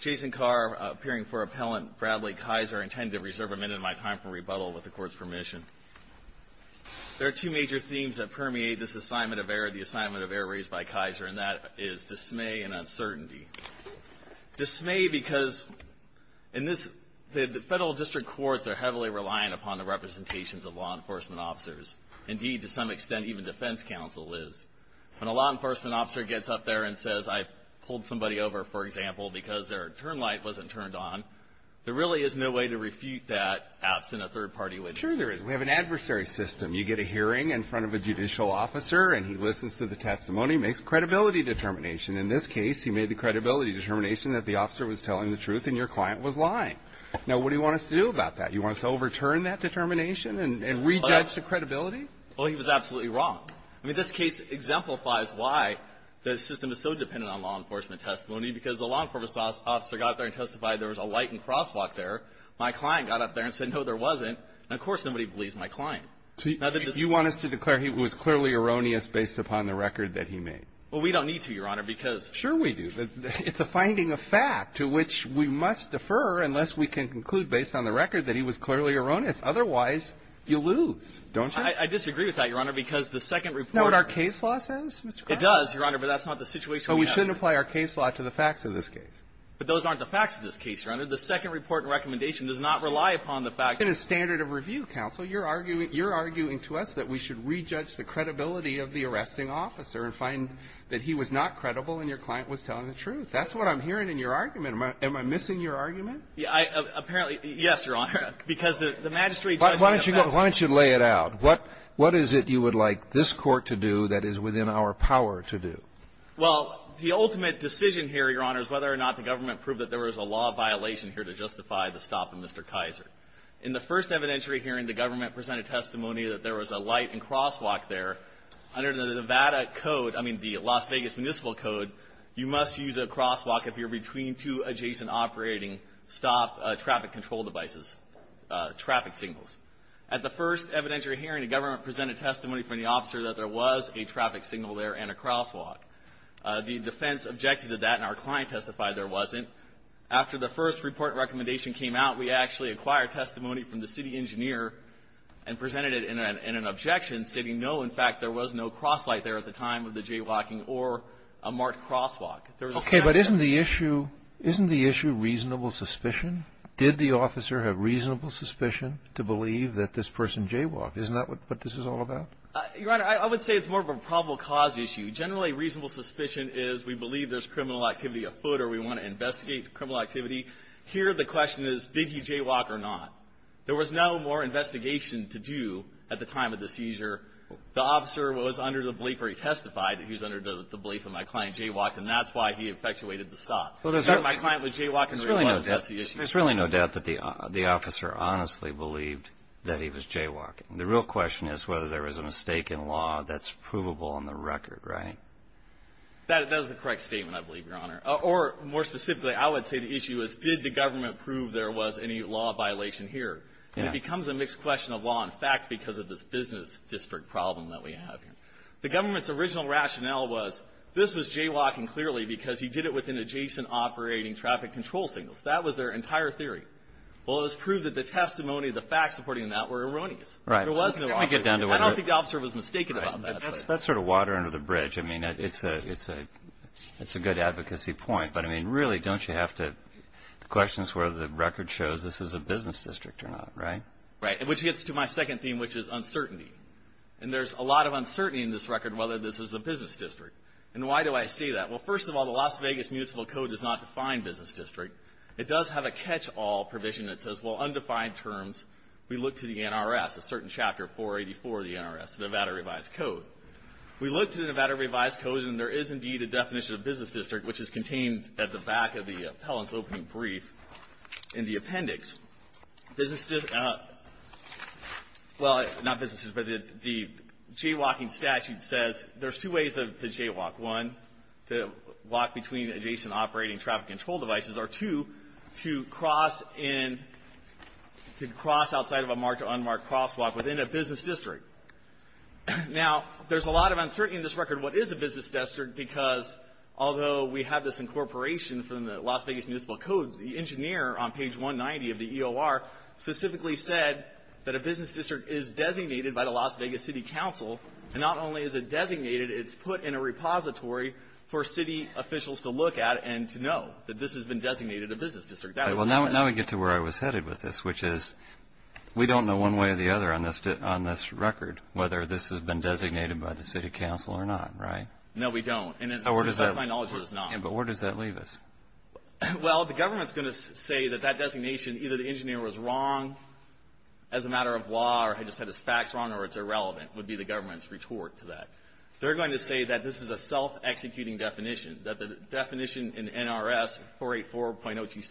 Jason Carr, appearing for appellant Bradley Kiszer, intended to reserve a minute of my time for rebuttal with the court's permission. There are two major themes that permeate this assignment of error, the assignment of error raised by Kiszer, and that is dismay and uncertainty. Dismay because in this, the federal district courts are heavily reliant upon the representations of law enforcement officers. Indeed, to some extent, even defense counsel is. When a law enforcement officer gets up there and says, I pulled somebody over, for example, because their turn light wasn't turned on, there really is no way to refute that absent a third party witness. Sure there is. We have an adversary system. You get a hearing in front of a judicial officer, and he listens to the testimony, makes credibility determination. In this case, he made the credibility determination that the officer was telling the truth and your client was lying. Now, what do you want us to do about that? You want us to overturn that determination and rejudge the credibility? Well, he was absolutely wrong. I mean, this case exemplifies why the system is so dependent on law enforcement testimony, because the law enforcement officer got there and testified there was a lightened crosswalk there. My client got up there and said, no, there wasn't. And, of course, nobody believes my client. So you want us to declare he was clearly erroneous based upon the record that he made? Well, we don't need to, Your Honor, because — Sure we do. It's a finding of fact to which we must defer unless we can conclude based on the record that he was clearly erroneous. Otherwise, you lose, don't you? I disagree with that, Your Honor, because the second report — You know what our case law says, Mr. Kramer? It does, Your Honor, but that's not the situation we have here. But we shouldn't apply our case law to the facts of this case. But those aren't the facts of this case, Your Honor. The second report and recommendation does not rely upon the fact — It's a standard of review, counsel. You're arguing to us that we should rejudge the credibility of the arresting officer and find that he was not credible and your client was telling the truth. That's what I'm hearing in your argument. Am I missing your argument? Apparently, yes, Your Honor, because the magistrate — Well, why don't you lay it out? What is it you would like this Court to do that is within our power to do? Well, the ultimate decision here, Your Honor, is whether or not the government proved that there was a law violation here to justify the stop of Mr. Kaiser. In the first evidentiary hearing, the government presented testimony that there was a light and crosswalk there. Under the Nevada Code — I mean, the Las Vegas Municipal Code, you must use a crosswalk if you're between two adjacent operating stop traffic control devices, traffic signals. At the first evidentiary hearing, the government presented testimony from the officer that there was a traffic signal there and a crosswalk. The defense objected to that, and our client testified there wasn't. After the first report and recommendation came out, we actually acquired testimony from the city engineer and presented it in an — in an objection, stating, no, in fact, there was no crosslight there at the time of the jaywalking or a marked crosswalk. Okay. But isn't the issue — isn't the issue reasonable suspicion? Did the officer have reasonable suspicion to believe that this person jaywalked? Isn't that what this is all about? Your Honor, I would say it's more of a probable cause issue. Generally, reasonable suspicion is we believe there's criminal activity afoot or we want to investigate criminal activity. Here, the question is, did he jaywalk or not? There was no more investigation to do at the time of the seizure. The officer was under the belief, or he testified that he was under the belief that my client jaywalked, and that's why he effectuated the stop. My client was jaywalking — There's really no doubt that the officer honestly believed that he was jaywalking. The real question is whether there was a mistake in law that's provable on the record, right? That is a correct statement, I believe, Your Honor. Or, more specifically, I would say the issue is, did the government prove there was any law violation here? And it becomes a mixed question of law and fact because of this business district problem that we have here. The government's original rationale was this was jaywalking, clearly, because he did it with an adjacent operating traffic control signals. That was their entire theory. Well, it was proved that the testimony, the facts supporting that were erroneous. There was no officer. I don't think the officer was mistaken about that. That's sort of water under the bridge. I mean, it's a good advocacy point. But, I mean, really, don't you have to — the question is whether the record shows this is a business district or not, right? Right, which gets to my second theme, which is uncertainty. And there's a lot of uncertainty in this record whether this is a business district. And why do I say that? Well, first of all, the Las Vegas Municipal Code does not define business district. It does have a catch-all provision that says, well, undefined terms, we look to the NRS, a certain chapter 484 of the NRS, the Nevada Revised Code. We look to the Nevada Revised Code, and there is, indeed, a definition of business district, which is contained at the back of the appellant's opening brief in the appendix. Business district — well, not businesses, but the jaywalking statute says there's two ways to jaywalk. One, to walk between adjacent operating traffic control devices, or two, to cross in — to cross outside of a marked or unmarked crosswalk within a business district. Now, there's a lot of uncertainty in this record what is a business district, because although we have this incorporation from the Las Vegas Municipal Code, the EOR specifically said that a business district is designated by the Las Vegas City Council, and not only is it designated, it's put in a repository for city officials to look at and to know that this has been designated a business district. Now we get to where I was headed with this, which is we don't know one way or the other on this record whether this has been designated by the city council or not, right? No, we don't. And to my knowledge, it is not. But where does that leave us? Well, the government's going to say that that designation, either the engineer was wrong as a matter of law, or he just had his facts wrong, or it's irrelevant, would be the government's retort to that. They're going to say that this is a self-executing definition, that the definition in NRS 484.027 is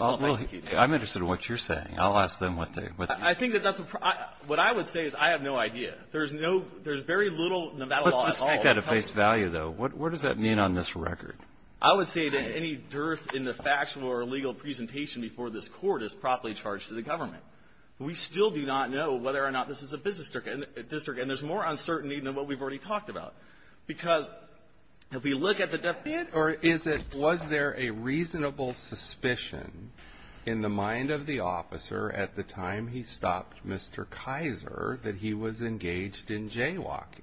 self-executing. Well, I'm interested in what you're saying. I'll ask them what they — I think that that's a — what I would say is I have no idea. There's no — there's very little Nevada law at all. Let's just take that at face value, though. What does that mean on this record? I would say that any dearth in the factual or legal presentation before this court is properly charged to the government. We still do not know whether or not this is a business district. And there's more uncertainty than what we've already talked about. Because if we look at the definition — Or is it — was there a reasonable suspicion in the mind of the officer at the time he stopped Mr. Kaiser that he was engaged in jaywalking?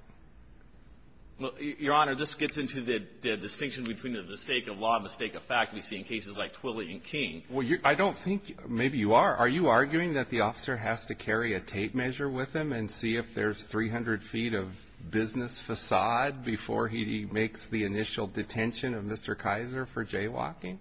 Your Honor, this gets into the distinction between the mistake of law and mistake of fact we see in cases like Twilley and King. Well, I don't think — maybe you are. Are you arguing that the officer has to carry a tape measure with him and see if there's 300 feet of business facade before he makes the initial detention of Mr. Kaiser for jaywalking?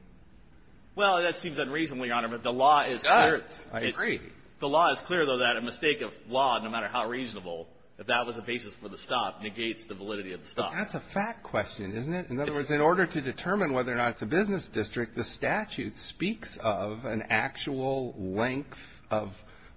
Well, that seems unreasonable, Your Honor. But the law is clear — Yes, I agree. The law is clear, though, that a mistake of law, no matter how reasonable, if that was the basis for the stop, negates the validity of the stop. That's a fact question, isn't it? In other words, in order to determine whether or not it's a business district, the statute speaks of an actual length of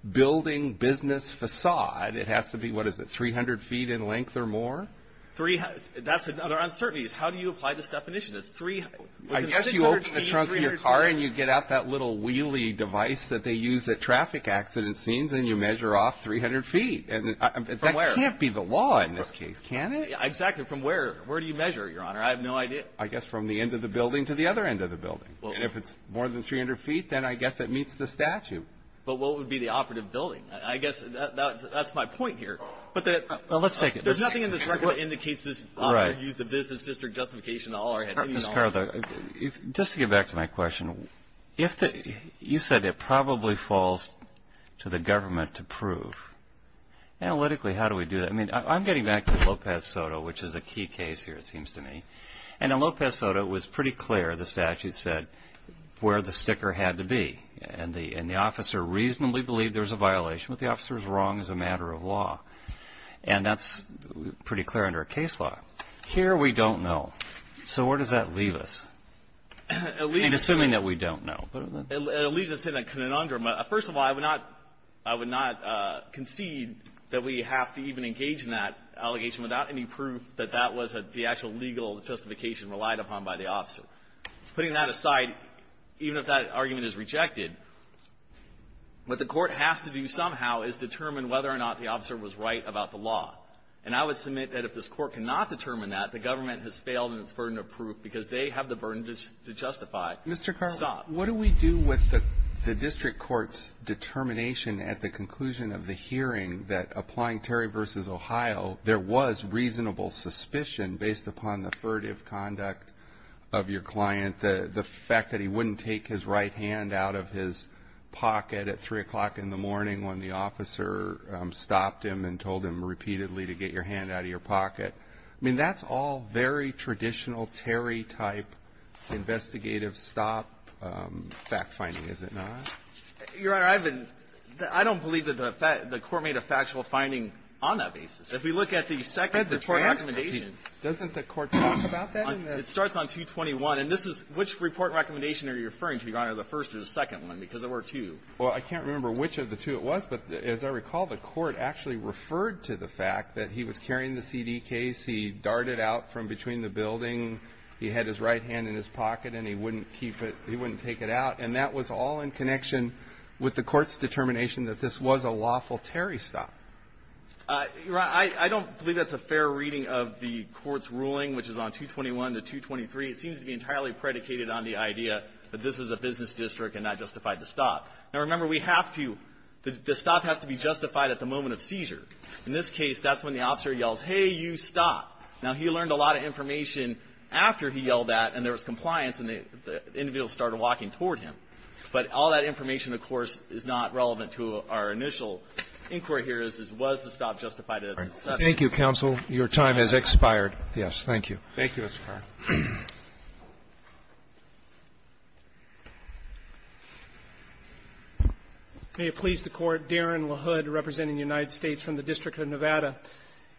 building business facade. It has to be, what is it, 300 feet in length or more? Three — that's another uncertainty is how do you apply this definition? It's three — I guess you open the trunk of your car and you get out that little wheelie device that they use at traffic accident scenes and you measure off 300 feet. From where? That can't be the law in this case, can it? Exactly. From where? Where do you measure, Your Honor? I have no idea. I guess from the end of the building to the other end of the building. And if it's more than 300 feet, then I guess it meets the statute. But what would be the operative building? I guess that's my point here. But that — Well, let's take it. There's nothing in this record that indicates this officer used a business district justification to all or anything at all. Just to get back to my question, you said it probably falls to the government to prove. Analytically, how do we do that? I mean, I'm getting back to Lopez Soto, which is the key case here, it seems to me. And in Lopez Soto, it was pretty clear, the statute said, where the sticker had to be. And the officer reasonably believed there was a violation. What the officer was wrong is a matter of law. And that's pretty clear under a case law. Here, we don't know. So where does that leave us? Assuming that we don't know. It leaves us in a conundrum. First of all, I would not concede that we have to even engage in that allegation without any proof that that was the actual legal justification relied upon by the officer. Putting that aside, even if that argument is rejected, what the Court has to do somehow is determine whether or not the officer was right about the law. And I would submit that if this Court cannot determine that, the government has failed in its burden of proof because they have the burden to justify. Stop. Mr. Carlson, what do we do with the district court's determination at the conclusion of the hearing that applying Terry v. Ohio, there was reasonable suspicion based upon the furtive conduct of your client, the fact that he wouldn't take his right hand out of his pocket at 3 o'clock in the morning when the officer stopped him and told him repeatedly to get your hand out of your pocket? I mean, that's all very traditional Terry-type investigative stop fact-finding, is it not? Your Honor, I've been – I don't believe that the Court made a factual finding on that basis. If we look at the second report recommendation. Doesn't the Court talk about that? It starts on 221, and this is – which report recommendation are you referring to, Your Honor, the first or the second one? Because there were two. Well, I can't remember which of the two it was, but as I recall, the Court actually referred to the fact that he was carrying the CD case, he darted out from between the building, he had his right hand in his pocket, and he wouldn't keep it – he wouldn't take it out. And that was all in connection with the Court's determination that this was a lawful Terry stop. Your Honor, I don't believe that's a fair reading of the Court's ruling, which Now, remember, we have to – the stop has to be justified at the moment of seizure. In this case, that's when the officer yells, hey, you stop. Now, he learned a lot of information after he yelled that, and there was compliance, and the individual started walking toward him. But all that information, of course, is not relevant to our initial inquiry here as to was the stop justified at the second. Thank you, counsel. Your time has expired. Yes. Thank you. Thank you, Mr. Carr. May it please the Court. Darren LaHood representing the United States from the District of Nevada.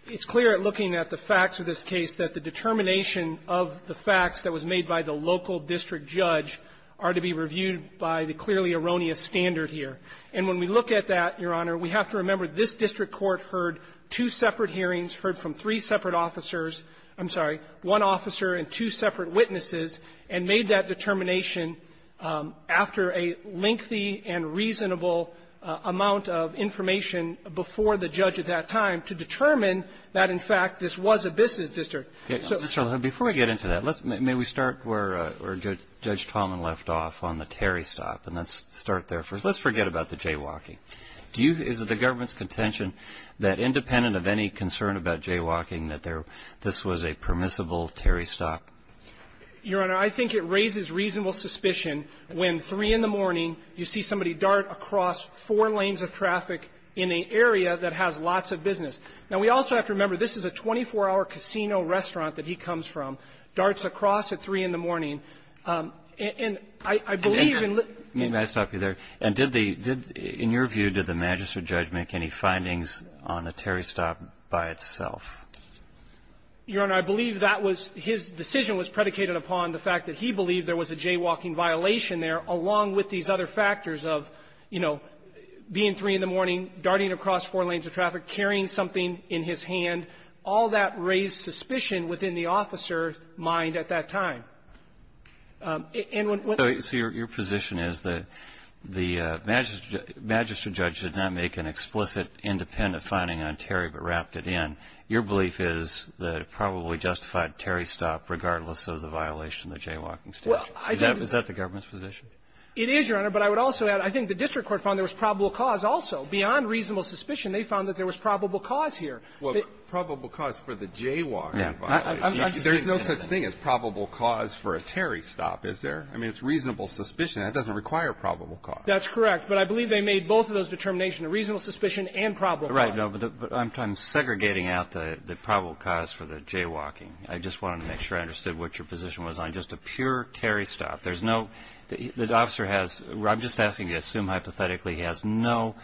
It's clear at looking at the facts of this case that the determination of the facts that was made by the local district judge are to be reviewed by the clearly erroneous standard here. And when we look at that, Your Honor, we have to remember this district court heard two separate hearings, heard from three separate officers – I'm sorry, one officer and two separate witnesses, and made that determination after a lengthy and reasonable amount of information before the judge at that time to determine that, in fact, this was a business district. Okay. Mr. LaHood, before we get into that, let's – may we start where Judge Tallman left off on the Terry stop, and let's start there first. Let's forget about the jaywalking. Do you – is it the government's contention that, independent of any concern about jaywalking, that there – this was a permissible Terry stop? Your Honor, I think it raises reasonable suspicion when, 3 in the morning, you see somebody dart across four lanes of traffic in an area that has lots of business. Now, we also have to remember, this is a 24-hour casino restaurant that he comes from, darts across at 3 in the morning. And I believe in – May I stop you there? And did the – in your view, did the magistrate judge make any findings on a Terry stop by itself? Your Honor, I believe that was – his decision was predicated upon the fact that he believed there was a jaywalking violation there, along with these other factors of, you know, being 3 in the morning, darting across four lanes of traffic, carrying something in his hand. All that raised suspicion within the officer's mind at that time. And when – So – so your position is that the magistrate judge did not make an explicit independent finding on Terry, but wrapped it in. Your belief is that it probably justified Terry stop regardless of the violation of the jaywalking statute. Well, I think the – Is that the government's position? It is, Your Honor. But I would also add, I think the district court found there was probable cause also. Beyond reasonable suspicion, they found that there was probable cause here. Well, probable cause for the jaywalking violation. Yeah. There's no such thing as probable cause for a Terry stop, is there? I mean, it's reasonable suspicion. That doesn't require probable cause. That's correct. But I believe they made both of those determinations, a reasonable suspicion and probable cause. Right. No, but I'm segregating out the probable cause for the jaywalking. I just wanted to make sure I understood what your position was on just a pure Terry stop. There's no – the officer has – I'm just asking you to assume hypothetically he has no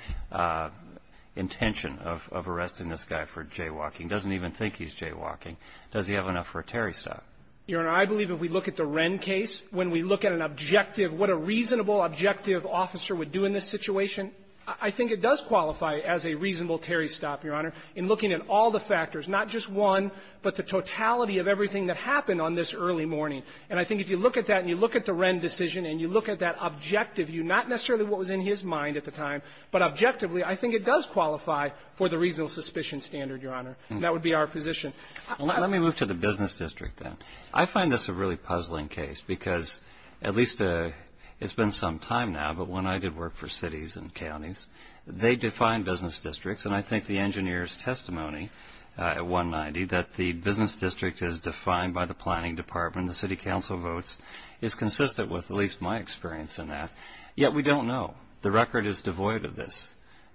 intention of arresting this guy for jaywalking, doesn't even think he's jaywalking. Does he have enough for a Terry stop? Your Honor, I believe if we look at the Wren case, when we look at an objective – what a reasonable, objective officer would do in this situation, I think it does qualify as a reasonable Terry stop, Your Honor, in looking at all the factors, not just one, but the totality of everything that happened on this early morning. And I think if you look at that and you look at the Wren decision and you look at that objective view, not necessarily what was in his mind at the time, but objectively, I think it does qualify for the reasonable suspicion standard, Your Honor. And that would be our position. Let me move to the business district, then. I find this a really puzzling case, because at least it's been some time now, but when I did work for cities and counties, they defined business districts, and I think the engineer's testimony at 190 that the business district is defined by the planning department, the city council votes, is consistent with at least my experience in that. Yet we don't know. The record is devoid of this.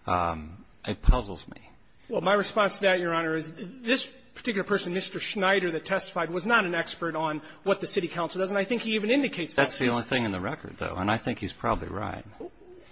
It puzzles me. Well, my response to that, Your Honor, is this particular person, Mr. Schneider, that testified was not an expert on what the city council does. And I think he even indicates that. That's the only thing in the record, though, and I think he's probably right.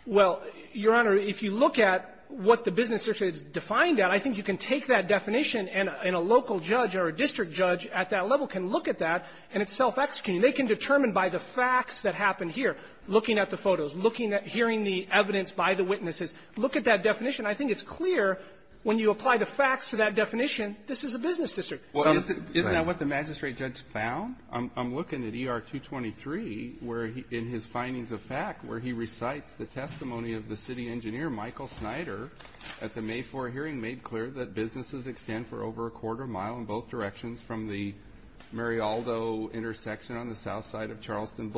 Well, Your Honor, if you look at what the business district is defined at, I think you can take that definition and a local judge or a district judge at that level can look at that, and it's self-executing. They can determine by the facts that happened here, looking at the photos, looking at hearing the evidence by the witnesses. Look at that definition. I think it's clear when you apply the facts to that definition, this is a business district. Isn't that what the magistrate judge found? I'm looking at ER-223 where he – in his findings of fact where he recites the testimony of the city engineer, Michael Schneider, at the May 4 hearing made clear that businesses extend for over a quarter mile in both directions from the Marialdo intersection on the south side of Charleston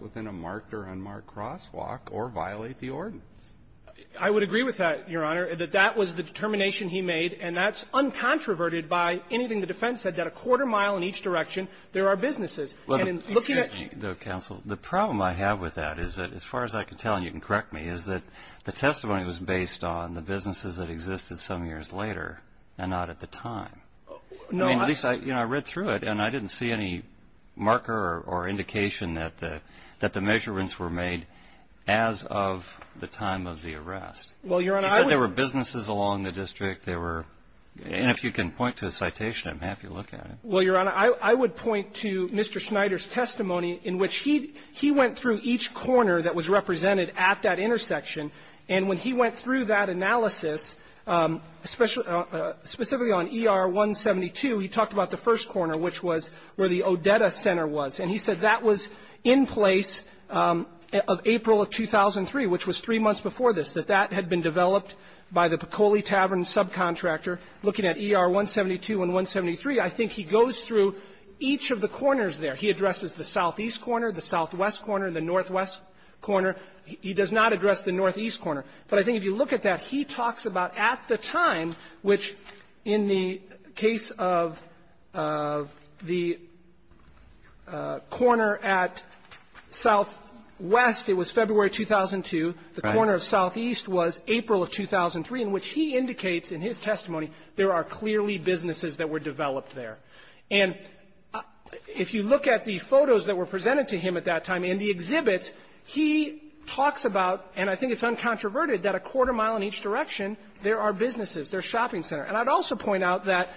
within a marked or unmarked crosswalk or violate the ordinance. I would agree with that, Your Honor, that that was the determination he made, and that's uncontroverted by anything the defense said, that a quarter mile in each direction there are businesses. Excuse me, though, counsel. The problem I have with that is that, as far as I can tell, and you can correct me, is that the testimony was based on the businesses that existed some years later and not at the time. No. I mean, at least, you know, I read through it, and I didn't see any marker or indication that the – that the measurements were made as of the time of the arrest. Well, Your Honor, I would – He said there were businesses along the district. There were – and if you can point to a citation, I'm happy to look at it. Well, Your Honor, I would point to Mr. Schneider's testimony in which he – he went through each corner that was represented at that intersection. And when he went through that analysis, especially on ER-172, he talked about the in place of April of 2003, which was three months before this, that that had been developed by the Piccoli Tavern subcontractor. Looking at ER-172 and 173, I think he goes through each of the corners there. He addresses the southeast corner, the southwest corner, the northwest corner. He does not address the northeast corner. But I think if you look at that, he talks about at the time, which in the case of the corner at southwest, it was February 2002. The corner of southeast was April of 2003, in which he indicates in his testimony there are clearly businesses that were developed there. And if you look at the photos that were presented to him at that time in the exhibits, he talks about, and I think it's uncontroverted, that a quarter mile in each direction, there are businesses. There's a shopping center. And I'd also point out that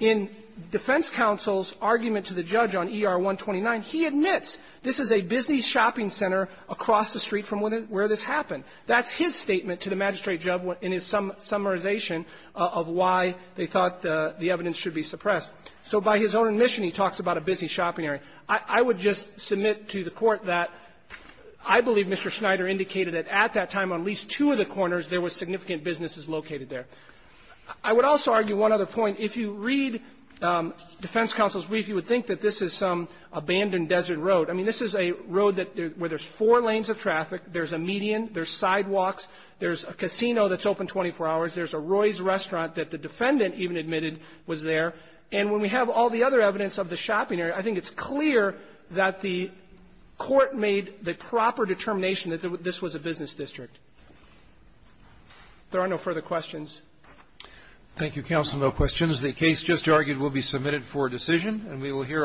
in defense counsel's argument to the judge on ER-129, he admits this is a busy shopping center across the street from where this happened. That's his statement to the magistrate in his summarization of why they thought the evidence should be suppressed. So by his own admission, he talks about a busy shopping area. I would just submit to the Court that I believe Mr. Schneider indicated that at that time on at least two of the corners, there were significant businesses located there. I would also argue one other point. If you read defense counsel's brief, you would think that this is some abandoned desert road. I mean, this is a road that where there's four lanes of traffic. There's a median. There's sidewalks. There's a casino that's open 24 hours. There's a Roy's restaurant that the defendant even admitted was there. And when we have all the other evidence of the shopping area, I think it's clear that the Court made the proper determination that this was a business district. If there are no further questions. Roberts. Thank you, counsel. No questions. The case just argued will be submitted for decision, and we will hear